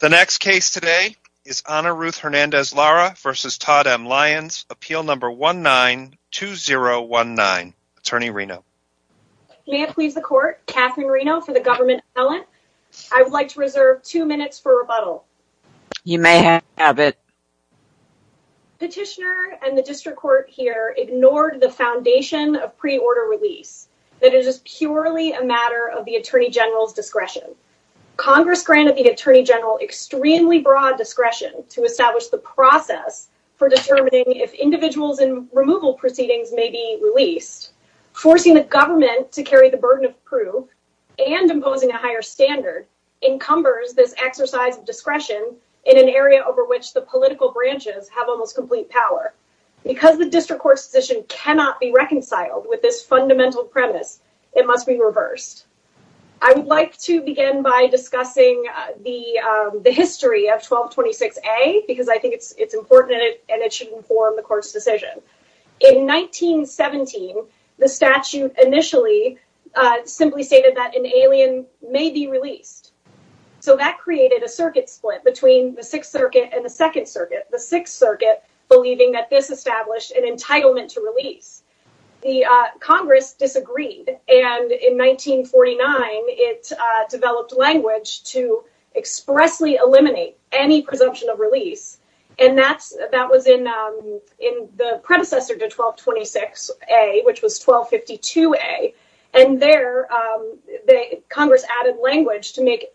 The next case today is Ana Ruth Hernandez Lara v. Todd M. Lyons, appeal number 19-2019. Attorney Reno. May it please the court, Katherine Reno for the government appellant. I would like to reserve two minutes for rebuttal. You may have it. Petitioner and the district court here ignored the foundation of pre-order release, that it is purely a matter of the attorney general's discretion. Congress granted the attorney general extremely broad discretion to establish the process for determining if individuals and removal proceedings may be released. Forcing the government to carry the burden of proof and imposing a higher standard encumbers this exercise of discretion in an area over which the political branches have almost complete power. Because the district court's decision cannot be reconciled with this by discussing the history of 1226A because I think it's important and it should inform the court's decision. In 1917, the statute initially simply stated that an alien may be released. So that created a circuit split between the 6th Circuit and the 2nd Circuit. The 6th Circuit believing that this established an entitlement to release. The Congress disagreed and in 1949, it developed language to expressly eliminate any presumption of release. And that was in the predecessor to 1226A, which was 1252A. And there, Congress added language to make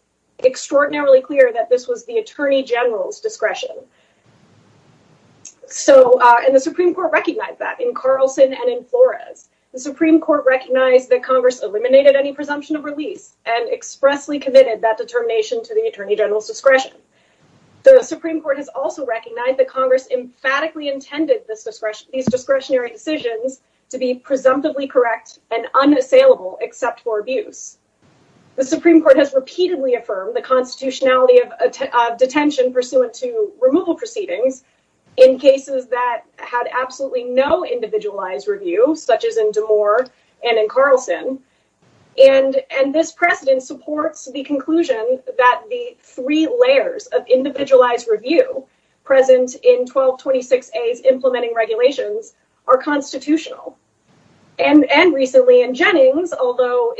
extraordinarily clear that this was the attorney general's discretion. And the Supreme Court recognized that in Carlson and in Flores. The Supreme Court recognized that Congress eliminated any presumption of release and expressly committed that determination to the attorney general's discretion. The Supreme Court has also recognized that Congress emphatically intended these discretionary decisions to be presumptively correct and unassailable except for abuse. The Supreme Court has repeatedly affirmed the constitutionality of detention pursuant to removal proceedings in cases that had absolutely no individualized review, such as in Damore and in Carlson. And this precedent supports the conclusion that the three layers of individualized review present in 1226A's implementing regulations are constitutional. And recently in Jennings, although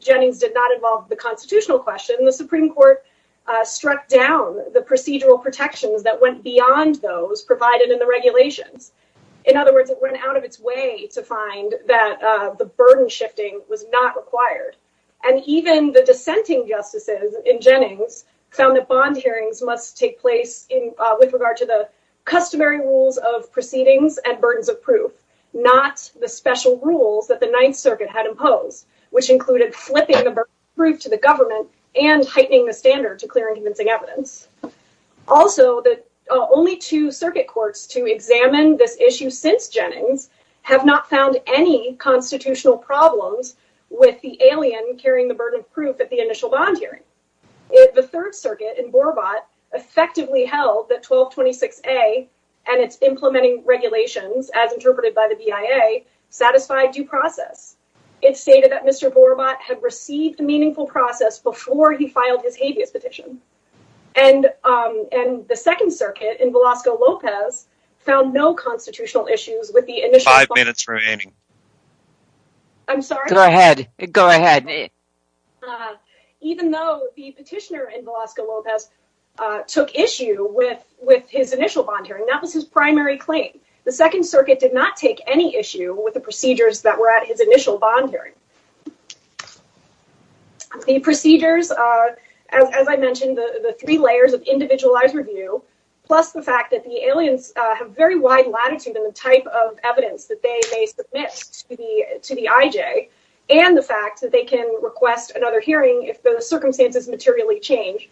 Jennings did not involve the constitutional question, the Supreme Court struck down the procedural protections that went beyond those provided in the regulations. In other words, it went out of its way to find that the burden shifting was not required. And even the dissenting justices in Jennings found that bond hearings must take place with regard to the customary rules of proceedings and burdens of proof, not the special rules that the Ninth Circuit had imposed, which included flipping the burden of proof to the courts to examine this issue since Jennings, have not found any constitutional problems with the alien carrying the burden of proof at the initial bond hearing. The Third Circuit in Borobot effectively held that 1226A and its implementing regulations, as interpreted by the BIA, satisfied due process. It stated that Mr. Borobot had received meaningful process before he filed his habeas petition. And the Second Circuit in Velasco-Lopez found no constitutional issues with the initial five minutes remaining. I'm sorry. Go ahead. Go ahead. Even though the petitioner in Velasco-Lopez took issue with his initial bond hearing, that was his primary claim. The Second Circuit did not take any issue with the procedures that were at his initial bond hearing. The procedures, as I mentioned, the three layers of individualized review, plus the fact that the aliens have very wide latitude in the type of evidence that they may submit to the IJ, and the fact that they can request another hearing if the circumstances materially change,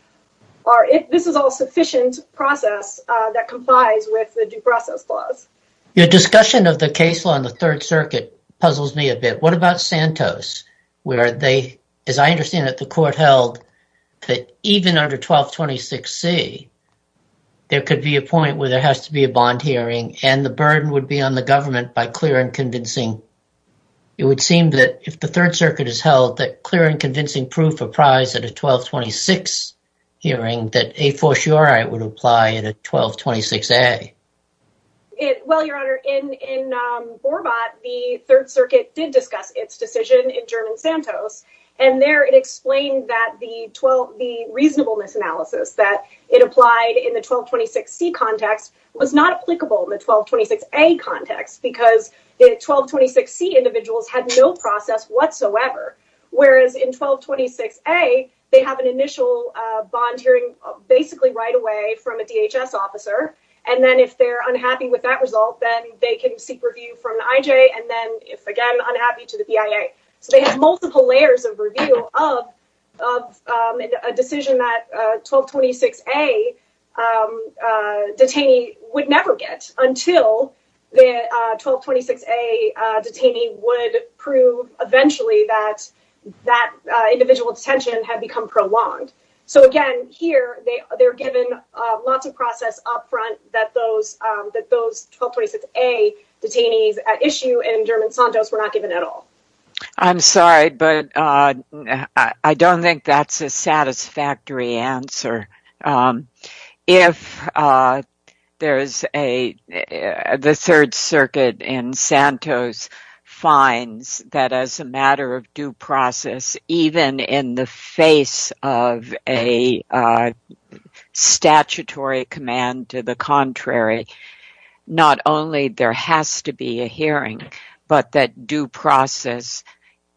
this is all sufficient process that complies with the due process clause. Your discussion of the case law in the Third Circuit puzzles me a bit. What about Santos, where they, as I understand it, the court held that even under 1226C, there could be a point where there has to be a bond hearing and the burden would be on the government by clear and convincing. It would seem that if the Third Circuit has held that clear and convincing proof apprised at a 1226 hearing, that a fortiori would apply at a 1226A. Well, Your Honor, in Borbot, the Third Circuit did discuss its decision in German Santos, and there it explained that the reasonableness analysis that it applied in the 1226C context was not applicable in the 1226A context because the 1226C individuals had no process whatsoever, whereas in 1226A, they have an initial bond hearing basically right away from a DHS officer, and then if they're unhappy with that result, then they can seek review from the IJ, and then if again unhappy, to the BIA. So they have multiple layers of review of a decision that 1226A detainee would never get until the 1226A detainee would prove eventually that that individual detention had become prolonged. So again, here, they're given lots of process up front that those 1226A detainees at issue in German Santos were not given at all. I'm sorry, but I don't think that's a satisfactory answer. If the Third Circuit in Santos finds that as a matter of due process, even in the face of a statutory command to the contrary, not only there has to be a hearing, but that due process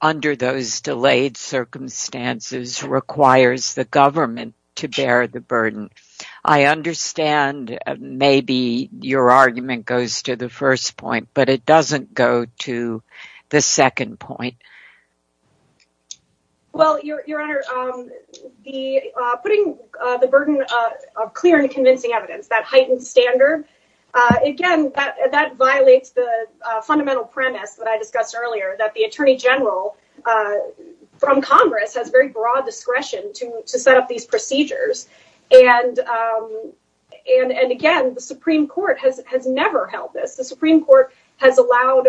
under those delayed circumstances requires the government to bear the burden. I understand maybe your argument goes to the first point, but it doesn't go to the second point. Well, Your Honor, putting the burden of clear and convincing evidence, that heightened standard, again, that violates the fundamental premise that I discussed earlier, that the Attorney General from Congress has very broad discretion to set up these procedures, and again, the Supreme Court has never held this. The Supreme Court has allowed,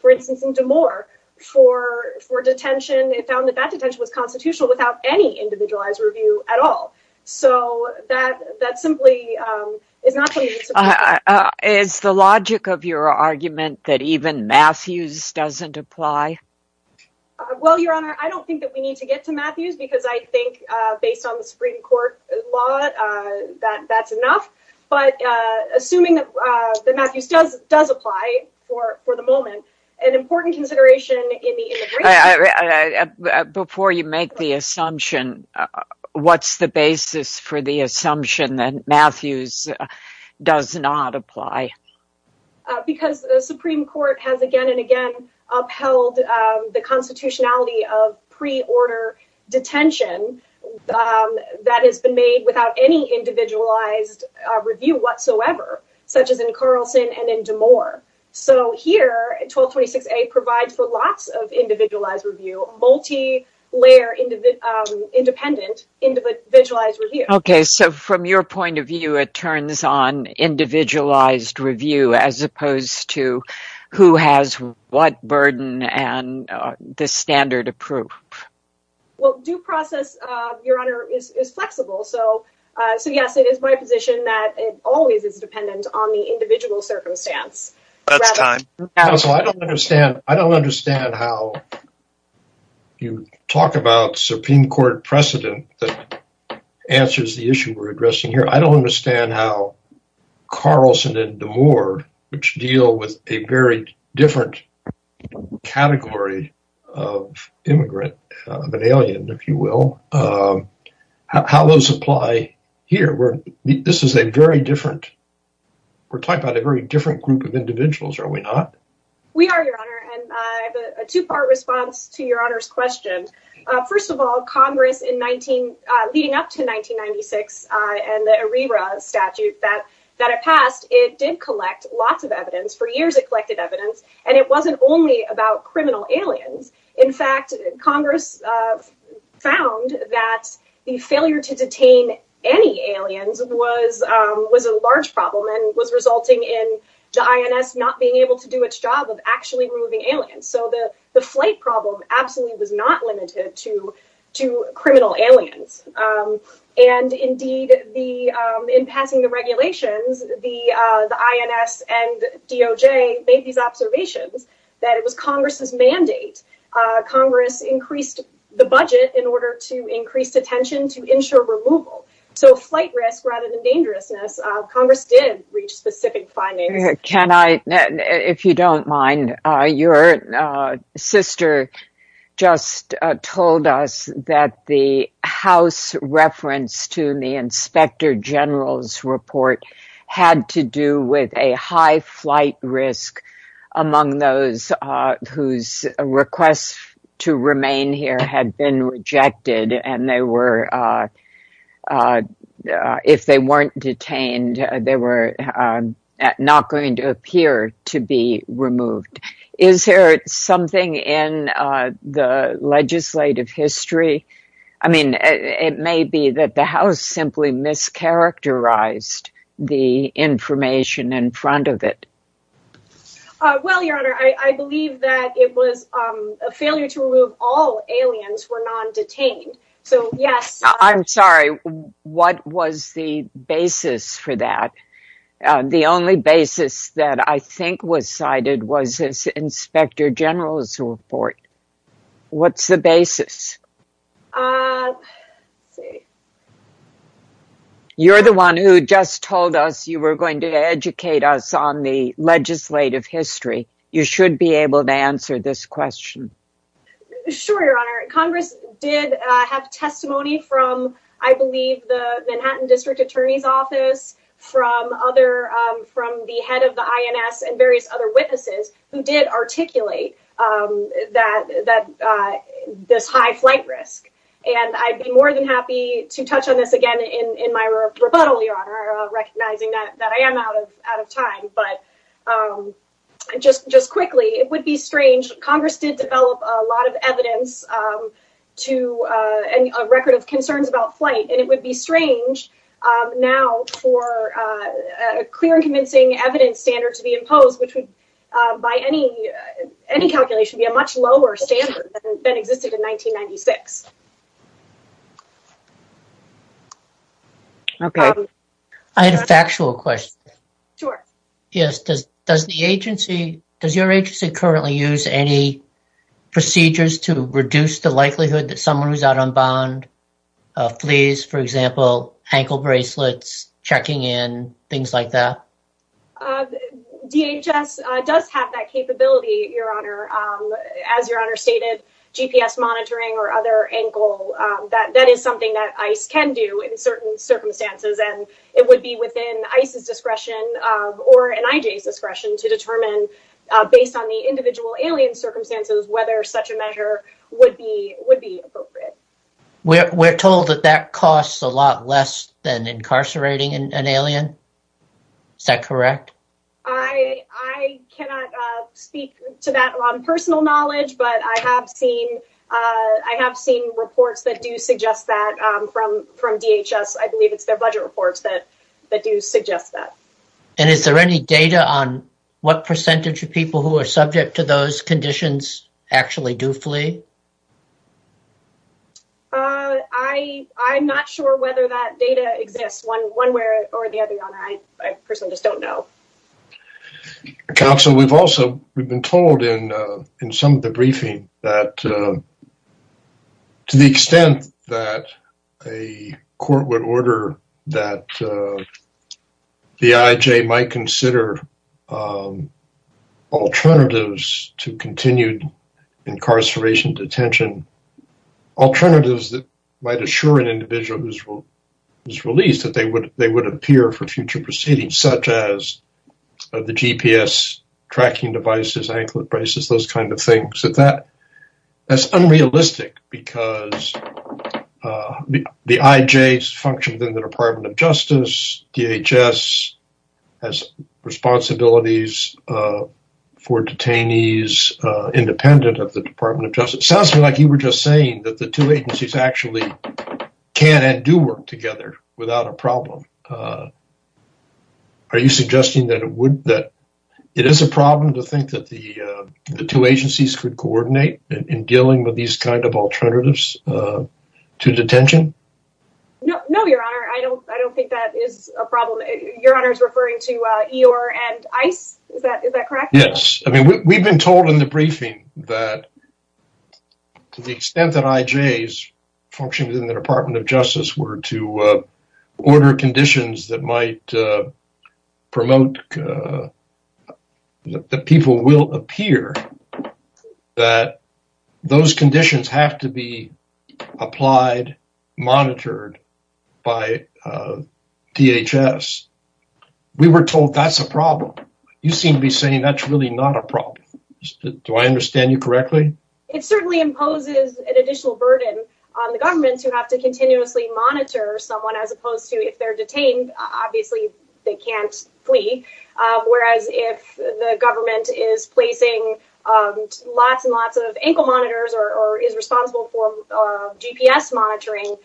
for instance, in D'Amour, for detention, it found that that detention was constitutional without any individualized review at all. So that simply is not what you need to prove. Is the logic of your argument that even Matthews doesn't apply? Well, Your Honor, I don't think that we need to get to Matthews because I think, based on the Supreme Court law, that's enough. But assuming that Matthews does apply for the moment, an important consideration in the immigration... Before you make the assumption, what's the basis for the assumption that Matthews does not apply? Because the Supreme Court has again and again upheld the constitutionality of pre-order detention that has been made without any individualized review whatsoever, such as in Carlson and in D'Amour. So here, 1226A provides for lots of individualized review, multi-layer independent individualized review. Okay, so from your point of view, it turns on individualized review as opposed to who has what burden and the standard of proof. Well, due process, Your Honor, is flexible. So yes, it is my position that it always is dependent on the individual circumstance. That's time. Counsel, I don't understand how you talk about Supreme Court precedent that answers the issue we're addressing here. I don't understand how Carlson and D'Amour, which deal with a very different category of immigrant, of an alien, if you will, how those apply here. This is a very different... We're talking about a very different group of individuals, are we not? We are, Your Honor, and I have a two-part response to Your Honor's question. First of all, Congress in 19... Leading up to 1996 and the ERIRA statute that it passed, it did collect lots of evidence. For years, it collected evidence, and it wasn't only about criminal aliens. In fact, Congress found that the failure to detain any aliens was a large problem and was resulting in the INS not being able to do its job of actually removing aliens. So the flight problem absolutely was not limited to criminal aliens. Indeed, in passing the regulations, the INS and DOJ made these observations that it was Congress's mandate. Congress increased the budget in order to increase attention to ensure removal. So flight risk rather than dangerousness, Congress did reach specific findings. Can I... If you don't mind, your sister just told us that the House reference to the Inspector General's report had to do with a high flight risk among those whose requests to remain here had been rejected, and they were... They were not going to appear to be removed. Is there something in the legislative history? I mean, it may be that the House simply mischaracterized the information in front of it. Well, Your Honor, I believe that it was a failure to remove all aliens who were non-detained. So, yes. I'm sorry. What was the basis for that? The only basis that I think was cited was this Inspector General's report. What's the basis? You're the one who just told us you were going to educate us on the legislative history. You have testimony from, I believe, the Manhattan District Attorney's Office, from the head of the INS, and various other witnesses who did articulate this high flight risk. And I'd be more than happy to touch on this again in my rebuttal, Your Honor, recognizing that I am out of time. But just quickly, it would be strange. Congress did develop a lot of evidence to a record of concerns about flight, and it would be strange now for a clear and convincing evidence standard to be imposed, which would, by any calculation, be a much lower standard than existed in 1996. Okay. I had a factual question. Sure. Yes. Does the agency, does your agency currently use any procedures to reduce the likelihood that someone who's out on bond, fleas, for example, ankle bracelets, checking in, things like that? DHS does have that capability, Your Honor. As Your Honor stated, GPS monitoring or other ankle, that is something that ICE can do in certain circumstances. And it would be within ICE's discretion or NIJ's discretion to determine, based on the individual alien circumstances, whether such a measure would be appropriate. We're told that that costs a lot less than incarcerating an alien. Is that correct? I cannot speak to that on personal knowledge, but I have seen reports that do suggest that from DHS. I believe it's their budget reports that do suggest that. And is there any data on what percentage of people who are subject to those conditions actually do flee? I'm not sure whether that data exists, one way or the other, Your Honor. I personally just don't know. Counsel, we've also, we've been told in some of the briefing that, to the extent that a court would order that the IJ might consider alternatives to continued incarceration, detention, alternatives that might assure an individual who's released that they would appear for future proceedings, such as the GPS tracking devices, anklet braces, those kinds of things. That's unrealistic because the IJ functions in the Department of Justice, DHS has responsibilities for detainees independent of the Department of Justice. It sounds to me like you were just saying that the two agencies actually can and do work together without a problem. Are you suggesting that it would, that it is a problem to think that the two agencies could coordinate in dealing with these kinds of alternatives to detention? No, Your Honor, I don't think that is a problem. Your Honor is referring to Eeyore and ICE, is that correct? Yes. I mean, we've been told in the briefing that, to the extent that IJs function within the Department of Justice were to order conditions that might promote that people will appear, that those conditions have to be applied, monitored by DHS. We were told that's a problem. You seem to be saying that's really not a problem. Do I understand you correctly? It certainly imposes an additional burden on the government to have to continuously monitor someone as opposed to if they're detained, obviously they can't flee. Whereas if the government is placing lots and lots of ankle monitors or is responsible for GPS monitoring,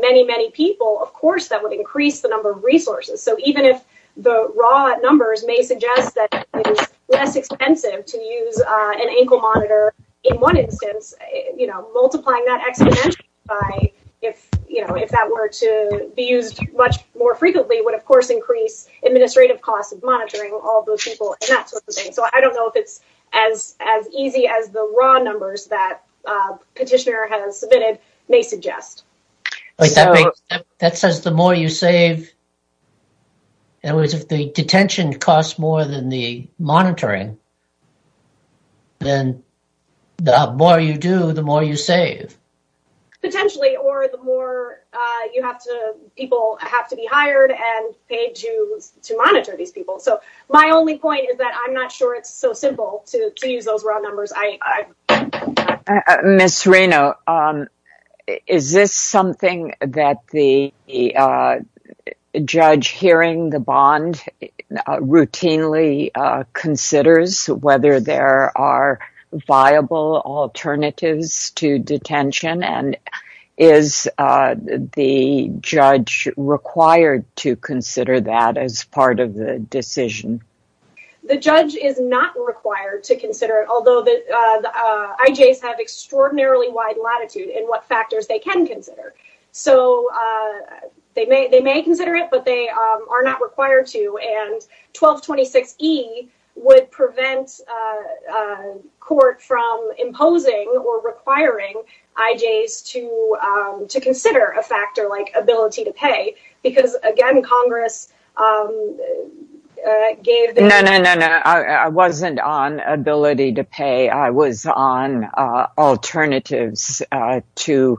many, many people, of course, that would increase the number of resources. So even if the raw numbers may suggest that it is less expensive to use an ankle monitor in one instance, multiplying that exponentially by if that were to be used much more frequently would, of course, increase administrative costs of monitoring all those people and that sort of thing. So I don't know if it's as easy as the raw numbers that Petitioner has submitted may suggest. But that says the more you save, in other words, if the detention costs more than the monitoring, then the more you do, the more you save. Potentially, or the more people have to be hired and paid to monitor these people. So my only point is that I'm not sure it's so simple to use those raw numbers. I miss Reno. Is this something that the judge hearing the bond routinely considers whether there are viable alternatives to detention and is the judge required to consider that as part of the decision? The judge is not required to consider it, although the IJs have extraordinarily wide latitude in what factors they can consider. So they may consider it, but they are not required to. And 1226E would prevent court from imposing or requiring IJs to consider a factor like ability to pay. Because again, Congress gave... No, no, no, no. I wasn't on ability to pay. I was on alternatives to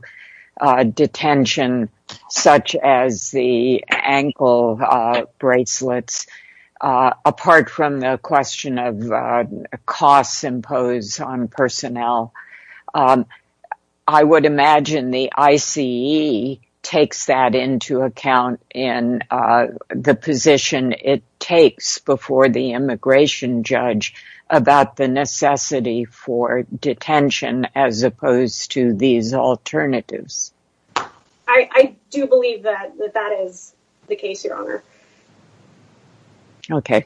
detention, such as the ankle bracelets. Apart from the question of in the position it takes before the immigration judge about the necessity for detention as opposed to these alternatives. I do believe that that is the case, Your Honor. Okay.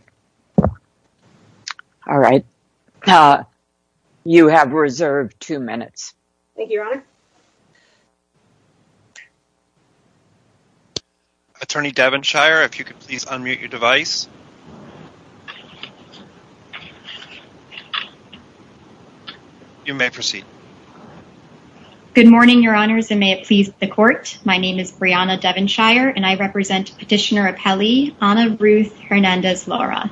All right. You have reserved two minutes. Thank you, Your Honor. Attorney Devonshire, if you could please unmute your device. You may proceed. Good morning, Your Honors, and may it please the court. My name is Brianna Devonshire and I represent Petitioner Appellee, Ana Ruth Hernandez-Lara.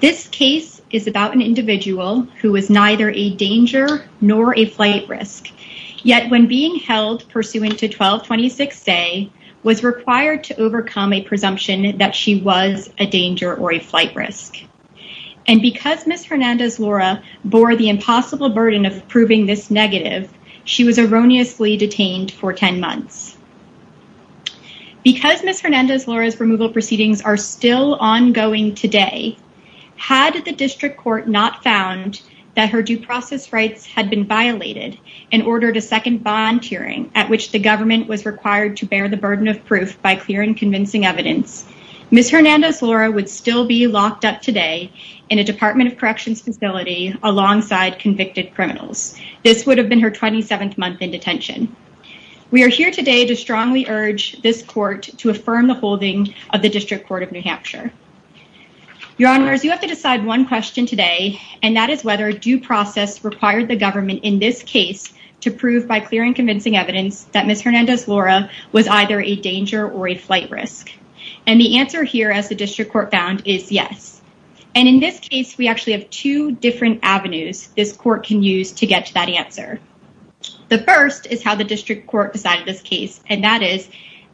This case is about an individual who was neither a danger nor a flight risk. Yet when being held pursuant to 1226A, was required to overcome a presumption that she was a danger or a flight risk. And because Ms. Hernandez-Lara bore the impossible burden of proving this negative, she was erroneously detained for 10 months. Because Ms. Hernandez-Lara's removal proceedings are still ongoing today, had the district court not found that her due process rights had been approved by clear and convincing evidence, Ms. Hernandez-Lara would still be locked up today in a Department of Corrections facility alongside convicted criminals. This would have been her 27th month in detention. We are here today to strongly urge this court to affirm the holding of the District Court of New Hampshire. Your Honors, you have to decide one question today, and that is whether due process required the government in this case to prove by clear and convincing evidence that Ms. Hernandez-Lara was either a danger or a flight risk. And the answer here as the district court found is yes. And in this case, we actually have two different avenues this court can use to get to that answer. The first is how the district court decided this case, and that is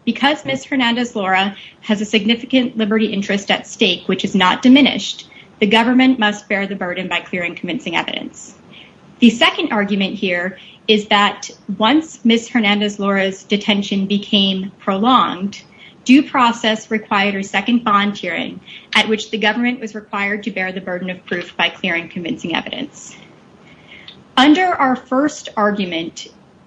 because Ms. Hernandez-Lara has a significant liberty interest at stake, which is not diminished, the government must bear the burden by clear and convincing evidence. The second argument here is that once Ms. Hernandez-Lara's detention became prolonged, due process required her second volunteering at which the government was required to bear the burden of proof by clear and convincing evidence. Under our first argument,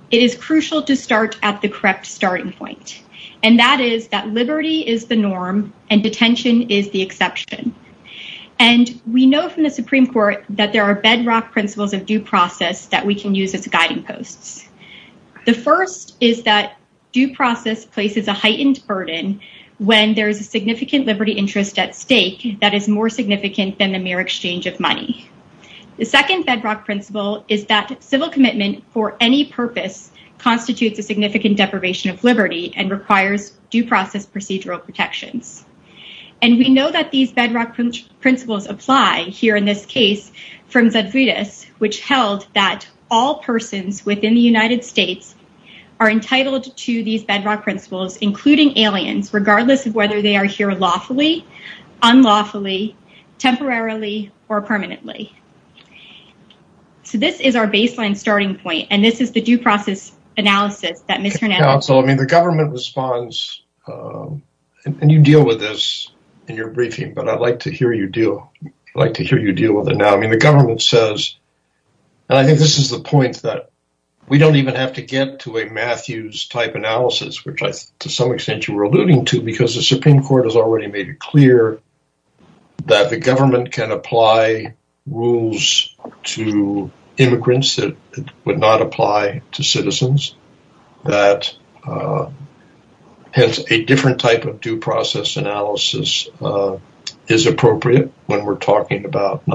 it is crucial to start at the correct starting point, and that is that liberty is the norm and detention is the exception. And we know from the Supreme Court that there are bedrock principles of due process that we can use as guiding posts. The first is that due process places a heightened burden when there is a significant liberty interest at stake that is more significant than the mere exchange of money. The second bedrock principle is that civil commitment for any purpose constitutes a significant deprivation of liberty and requires due process procedural protections. And we know that these bedrock principles apply here in this which held that all persons within the United States are entitled to these bedrock principles, including aliens, regardless of whether they are here lawfully, unlawfully, temporarily, or permanently. So this is our baseline starting point, and this is the due process analysis that Ms. Hernandez-Lara... Counsel, I mean the government responds, and you deal with this in your briefing, but I'd like to hear you deal with it now. I mean the government says, and I think this is the point that we don't even have to get to a Matthews-type analysis, which to some extent you were alluding to, because the Supreme Court has already made it clear that the government can apply rules to immigrants that would not apply to citizens, that a different type of due process analysis is appropriate when we're talking about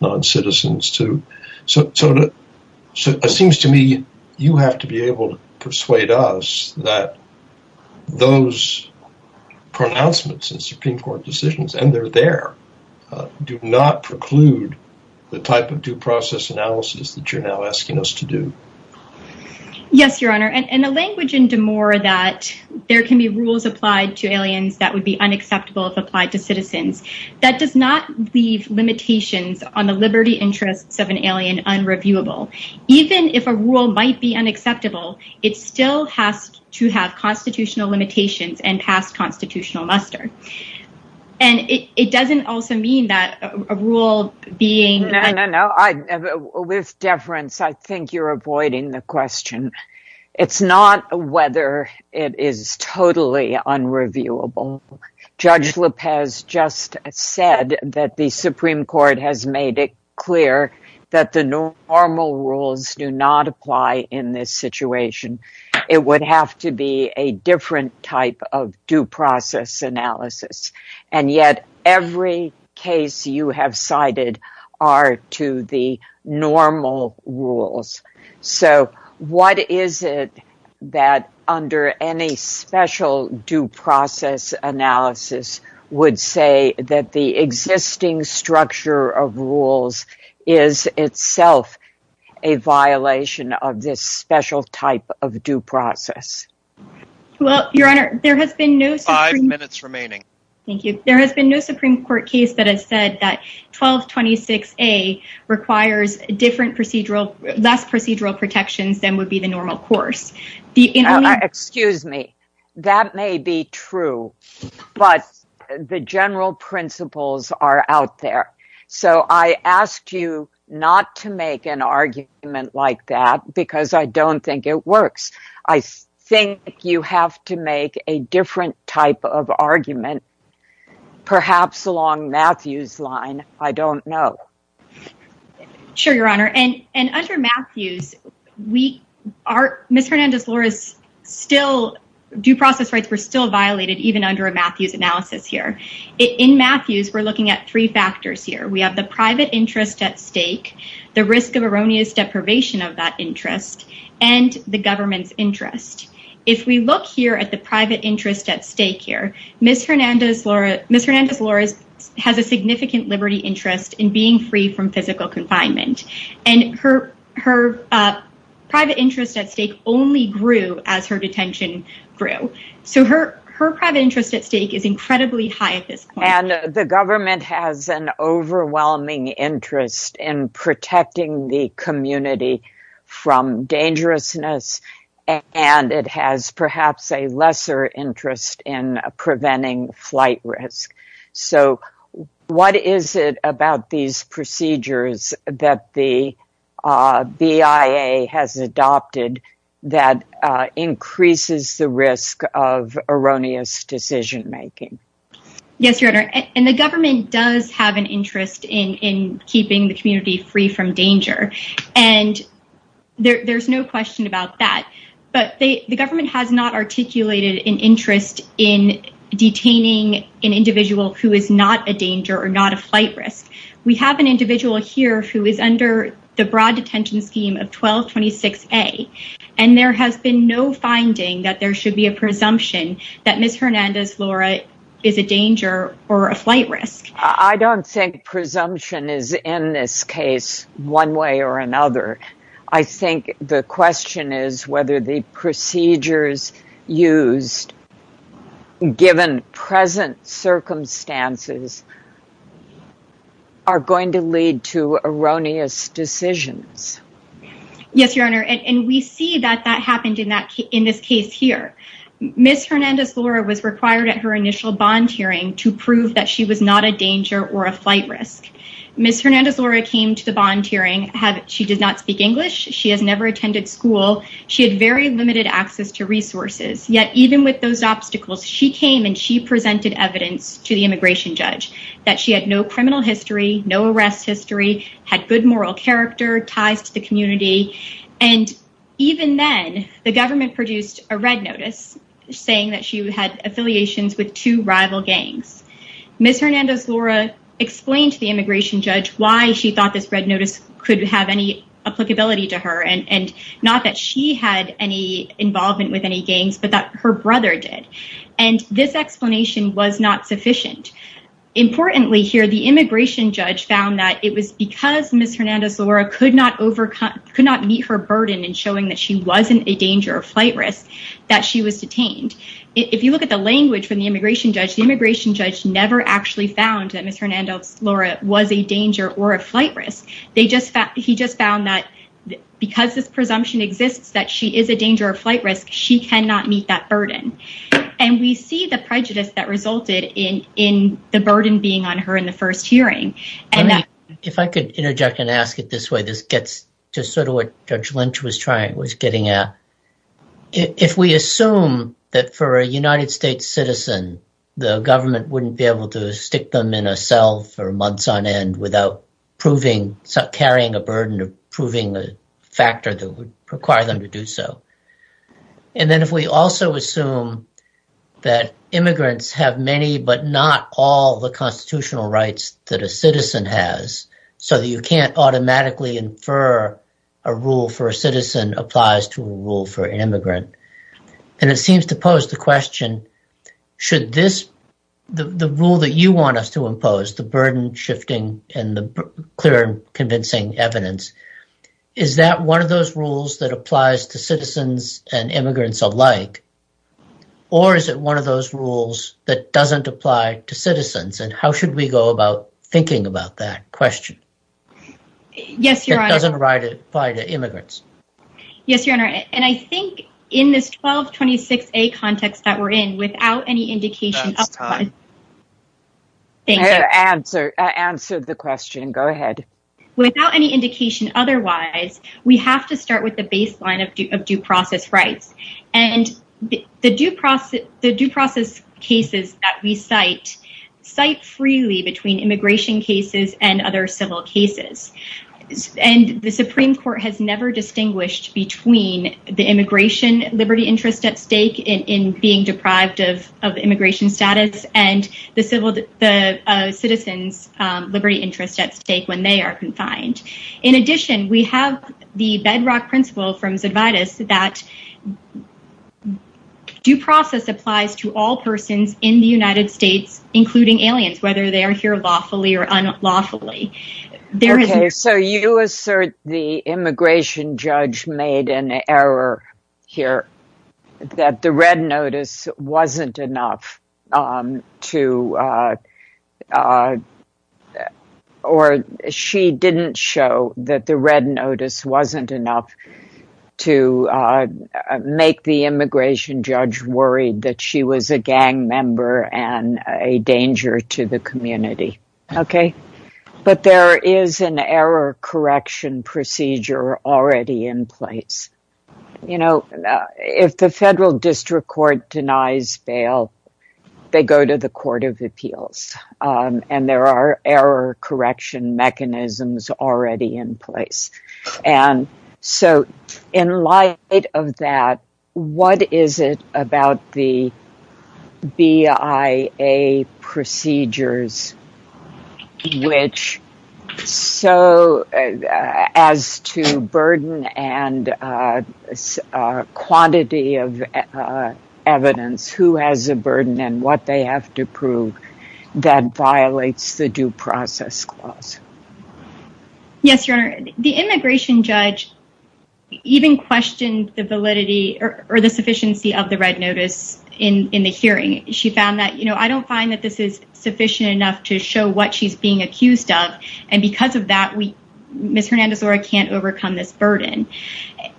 non-citizens too. So it seems to me you have to be able to persuade us that those pronouncements in Supreme Court decisions, and they're there, do not preclude the type of due process analysis that you're now asking us to do. Yes, Your Honor, and the language in D'Amour that there can be rules applied to aliens that would be unacceptable if applied to citizens, that does not leave limitations on the liberty interests of an alien unreviewable. Even if a rule might be unacceptable, it still has to have constitutional limitations and past constitutional muster. And it doesn't also mean that a rule being... No, no, no. With deference, I think you're avoiding the question. It's not whether it is totally unreviewable. Judge Lopez just said that the Supreme Court has made it clear that the normal rules do not apply in this situation. It would have to be a different type of due process analysis. And yet every case you have cited are to the normal rules. So what is it that under any special due process analysis would say that the existing structure of rules is itself a violation of this special type of due process? Well, Your Honor, there has been no... Five minutes remaining. Thank you. There has been no Supreme Court case that has said that 1226A requires less procedural protections than would be the normal course. Excuse me, that may be true, but the general principles are out there. So I asked you not to make an argument like that because I don't think it works. I think you have to make a different type of argument, perhaps along Matthew's line. I don't know. Sure, Your Honor. And under Matthew's, Ms. Hernandez-Lores' due process rights were still violated even under a Matthew's analysis here. In Matthew's, we're looking at three factors here. We have the private interest at stake, the risk of erroneous deprivation of that interest, and the government's interest. If we look here at the private interest at stake here, Ms. Hernandez-Lores has a significant liberty interest in being free from physical confinement. And her private interest at stake only grew as her And the government has an overwhelming interest in protecting the community from dangerousness, and it has perhaps a lesser interest in preventing flight risk. So what is it about these procedures that the BIA has adopted that increases the risk of erroneous decision making? Yes, Your Honor. And the government does have an interest in keeping the community free from danger. And there's no question about that. But the government has not articulated an interest in detaining an individual who is not a danger or not a flight risk. We have an individual here who is under the broad detention scheme of 1226A. And there has been no finding that there should be a presumption that Ms. Hernandez-Lores is a danger or a flight risk. I don't think presumption is in this case one way or another. I think the question is whether the procedures used, given present circumstances, are going to lead to erroneous decisions. Yes, Your Honor. And we see that that happened in this case here. Ms. Hernandez-Lores was required at her initial bond hearing to prove that she was not a danger or a flight risk. Ms. Hernandez-Lores came to the bond hearing. She does not speak English. She has never attended school. She had very limited access to resources. Yet even with those obstacles, she came and she presented evidence to the immigration judge that she had no criminal history, no arrest history, had good moral character, ties to the community. And even then, the government produced a red notice saying that she had affiliations with two rival gangs. Ms. Hernandez-Lores explained to the immigration judge why she thought this red notice could have any applicability to her, and not that she had any involvement with any gangs, but that her brother did. And this explanation was not sufficient. Importantly here, the immigration judge found that it was because Ms. Hernandez-Lores could not meet her burden in showing that she wasn't a danger or flight risk that she was detained. If you look at the language from the immigration judge, the immigration judge never actually found that Ms. Hernandez-Lores was a danger or a flight risk. He just found that because this presumption exists that she is a danger or flight risk, she cannot meet that burden. And we see the prejudice that resulted in the burden being on her in the first hearing. If I could interject and ask it this way, this gets to sort of what Judge Lynch was trying, was getting at. If we assume that for a United States citizen, the government wouldn't be able to stick them in a cell for months on end without proving, carrying a burden of proving a factor that would require them to do so. And then if we also assume that immigrants have many, but not all the constitutional rights that a citizen has, so that you can't automatically infer a rule for a citizen applies to a rule for an immigrant. And it seems to pose the question, should this, the rule that you want us to impose, the burden shifting and the clear convincing evidence, is that one of those rules that applies to citizens and immigrants alike? Or is it one of those rules that doesn't apply to citizens? And how should we go about thinking about that question? It doesn't apply to immigrants. Yes, Your Honor. And I think in this 1226A context that we're in, without any indication... That's time. Answer the question. Go ahead. Without any indication otherwise, we have to start with the baseline of due process rights. And the due process cases that we cite, cite freely between immigration cases and other civil cases. And the Supreme Court has never distinguished between the immigration liberty interest at stake in being deprived of immigration status and the citizens liberty interest at stake when they are confined. In addition, we have the bedrock principle from Zedvidas that due process applies to all persons in the United States, including aliens, whether they are here lawfully or unlawfully. Okay, so you assert the immigration judge made an error here, that the red notice wasn't enough to... Or she didn't show that the red notice wasn't enough to make the immigration judge worried that she was a gang member and a danger to the community. Okay. But there is an error correction procedure already in place. If the federal district court denies bail, they go to the court of appeals and there are error correction mechanisms already in place. And so in light of that, what is it about the BIA procedures, which so as to burden and quantity of evidence, who has a burden and what they have to prove that violates the due process clause? Yes, Your Honor. The immigration judge even questioned the validity or the sufficiency of the red notice in the hearing. She found that, I don't find that this is sufficient enough to show what she's being accused of. And because of that, Ms. Hernandez-Lora can't overcome this burden.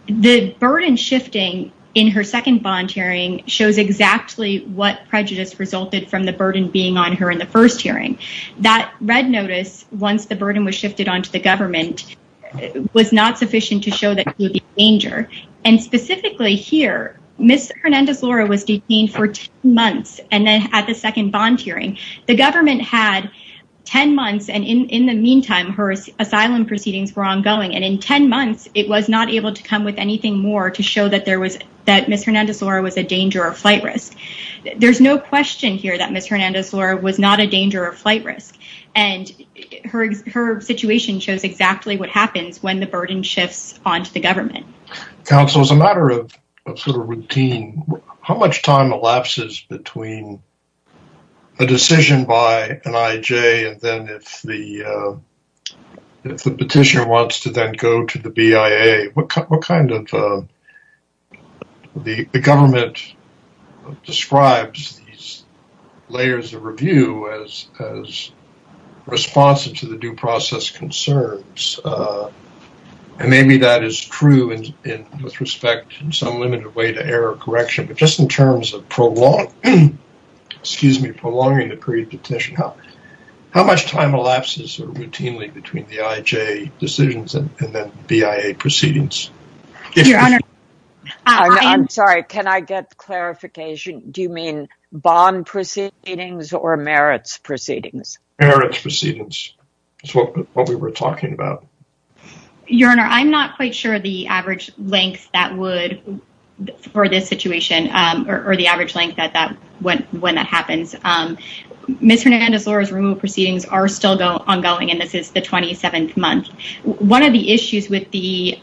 The burden shifting in her second bond hearing shows exactly what prejudice resulted from the burden being on her in the first hearing. That red notice, once the burden was shifted onto the government, was not sufficient to show that she would be a danger. And specifically here, Ms. Hernandez-Lora was detained for 10 months. And then at the second bond hearing, the government had 10 months. And in the meantime, her asylum proceedings were ongoing. And in 10 months, it was not able to come with anything more to show that there was that Ms. Hernandez-Lora was a danger of flight risk. There's no question here that Ms. Hernandez-Lora was not a danger of flight risk. And her situation shows exactly what happens when the burden shifts onto the government. Counsel, as a matter of sort of routine, how much time elapses between a decision by an IJ, and then if the petitioner wants to then go to the BIA? What kind of, the government describes these layers of review as responsive to the due process concerns? And maybe that is true with respect in some limited way to error correction, but just in terms of prolonging the period of petition, how much time elapses routinely between the IJ decisions and then BIA proceedings? I'm sorry, can I get clarification? Do you mean bond proceedings or merits proceedings? Merits proceedings is what we were talking about. Your Honor, I'm not quite sure the average length that would, for this situation, or the average length when that happens. Ms. Hernandez-Lora's remote proceedings are still ongoing, and this is the 27th month. One of the issues with the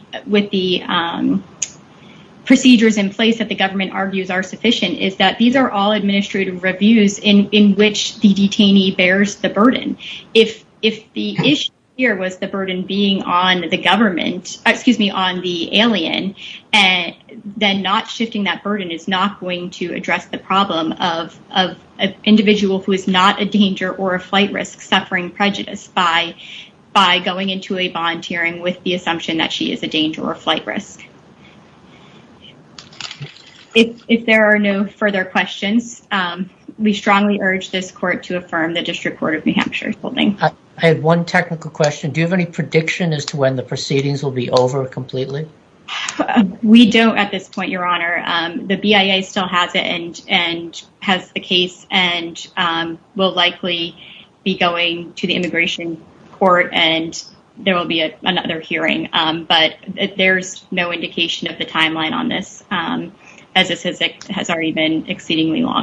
procedures in place that the government argues are sufficient is that these are all administrative reviews in which the detainee bears the burden. If the issue here was the burden being on the government, excuse me, on the alien, then not shifting that burden is not going to address the problem of an individual who is not a danger or a flight risk suffering prejudice by going into a bond hearing with the assumption that she is a danger or flight risk. If there are no further questions, we strongly urge this court to affirm the District Court of New Hampshire's holding. I had one technical question. Do you have any prediction as to when the proceedings will be over completely? We don't at this point, Your Honor. The BIA still has it and has the case and will likely be going to the immigration court, and there will be another hearing, but there's no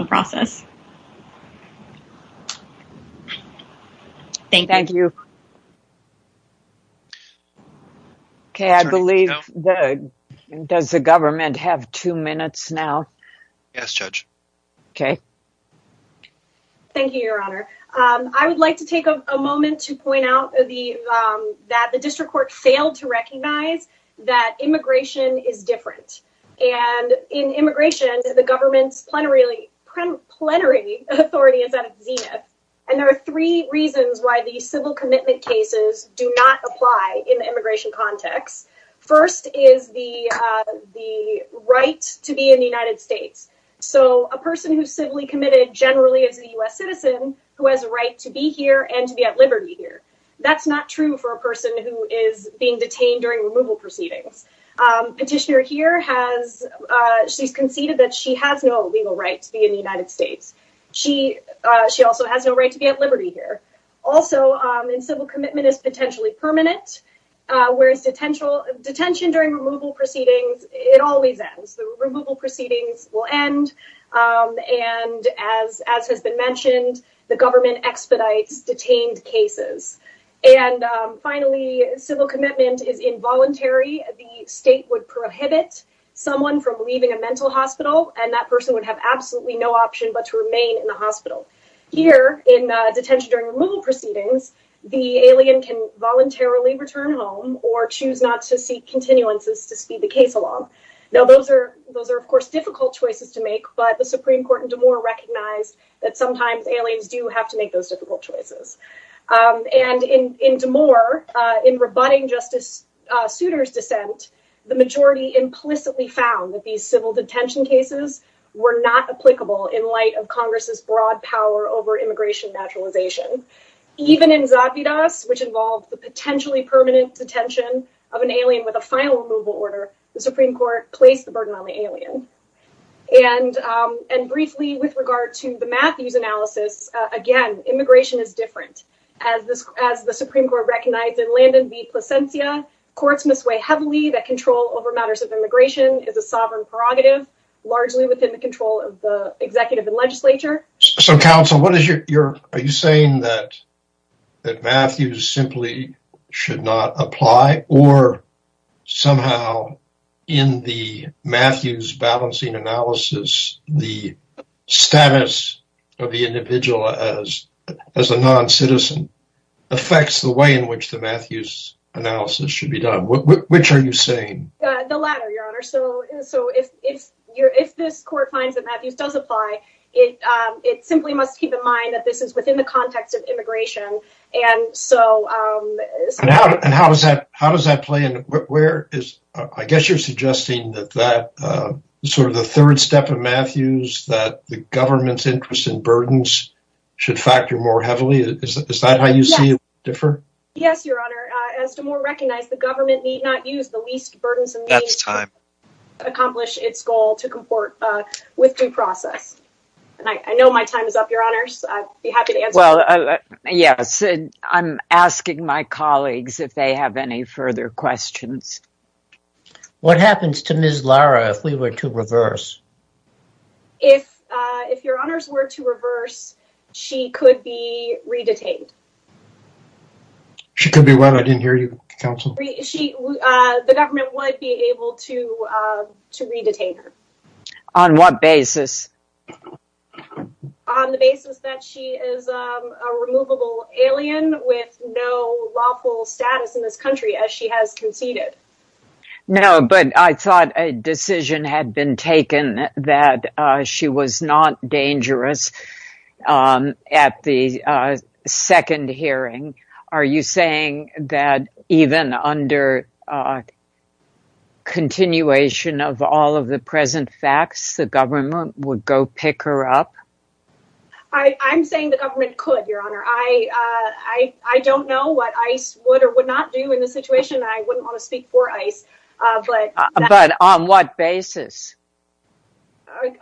process. Thank you. Does the government have two minutes now? Yes, Judge. Okay. Thank you, Your Honor. I would like to take a moment to point out that the district court failed to recognize that immigration is different, and in immigration, the government's plenary authority is at its zenith, and there are three reasons why the civil commitment cases do not apply in the immigration context. First is the right to be in the United States, so a person who's civilly committed generally is a U.S. citizen who has a right to be here and to be detained during removal proceedings. Petitioner here has conceded that she has no legal right to be in the United States. She also has no right to be at liberty here. Also, civil commitment is potentially permanent, whereas detention during removal proceedings, it always ends. The removal proceedings will end, and as has been mentioned, the government expedites detained cases. And finally, civil commitment is involuntary. The state would prohibit someone from leaving a mental hospital, and that person would have absolutely no option but to remain in the hospital. Here, in detention during removal proceedings, the alien can voluntarily return home or choose not to seek continuances to speed the case along. Now, those are, of course, difficult choices to make, but the Supreme Court in De Moore recognized that sometimes aliens do have to make those choices. And in De Moore, in rebutting Justice Souter's dissent, the majority implicitly found that these civil detention cases were not applicable in light of Congress's broad power over immigration naturalization. Even in Zadvidas, which involved the potentially permanent detention of an alien with a final removal order, the Supreme Court placed the burden on the alien. And briefly, with regard to the Matthews analysis, again, immigration is different. As the Supreme Court recognized in Landon v. Plasencia, courts must weigh heavily that control over matters of immigration is a sovereign prerogative, largely within the control of the executive and legislature. So, counsel, are you saying that Matthews simply should not apply, or somehow in the Matthews balancing analysis, the status of the individual as a non-citizen affects the way in which the Matthews analysis should be done? Which are you saying? The latter, Your Honor. So, if this court finds that Matthews does apply, it simply must keep in mind that this is within the context of immigration. And so... And how does that play in? Where is... I guess you're suggesting that sort of the third step of Matthews, that the government's interest in burdens should factor more heavily? Is that how you see it differ? Yes, Your Honor. As Damore recognized, the government need not use the least burdensome means to accomplish its goal to comport with due process. And I know my time is up, Your Honors. I'd be happy to answer. Well, yes. I'm asking my colleagues if they have any further questions. What happens to Ms. Lara if we were to reverse? If Your Honors were to reverse, she could be re-detained. She could be what? I didn't hear you, counsel. The government would be able to re-detain her. On what basis? On the basis that she is a removable alien with no lawful status in this country as she has conceded. No, but I thought a decision had been taken that she was not dangerous at the second hearing. Are you saying that even under continuation of all of the present facts, the government would go pick her up? I'm saying the government could, Your Honor. I don't know what ICE would or would not do in this situation. I wouldn't want to speak for ICE. But on what basis?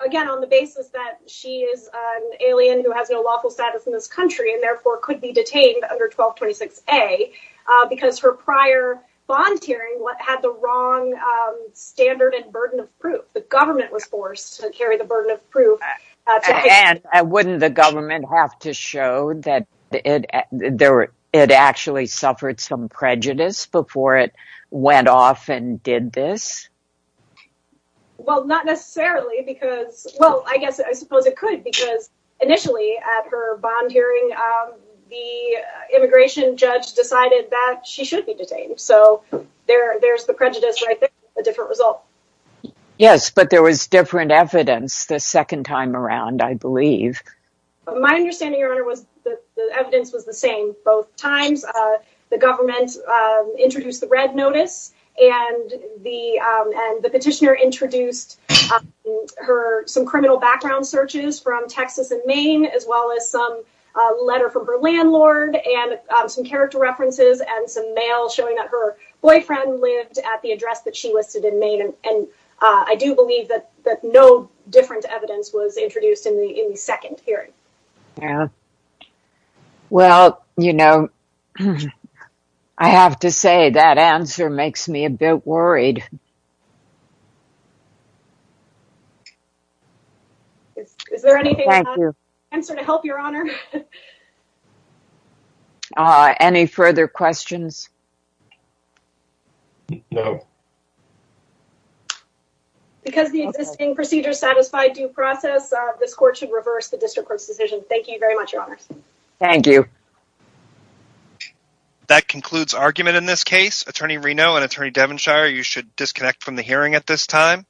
Again, on the basis that she is an alien who has no lawful status in this country and therefore could be detained under 1226A because her prior bond hearing had the wrong standard and burden of proof. The government was forced to carry the burden of proof. Wouldn't the government have to show that it actually suffered some prejudice before it went off and did this? Well, not necessarily. Well, I guess I suppose it could because initially at her bond hearing, the immigration judge decided that she should be detained. So there's the prejudice right there, a different result. Yes, but there was different evidence the second time around, I believe. My understanding, Your Honor, was that the evidence was the same both times. The government introduced the red notice and the petitioner introduced some criminal background searches from Texas and Maine, as well as some letter from her landlord and some character references and some mail showing that her boyfriend lived at the address that she listed in Maine. And I do believe that no different evidence was introduced in the second hearing. Well, you know, I have to say that answer makes me a bit worried. Is there anything I can answer to help, Your Honor? Any further questions? No. Because the existing procedure satisfied due process, this court should reverse the district court's decision. Thank you very much, Your Honors. Thank you. Thank you. That concludes argument in this case. Attorney Reno and Attorney Devonshire, you should disconnect from the hearing at this time.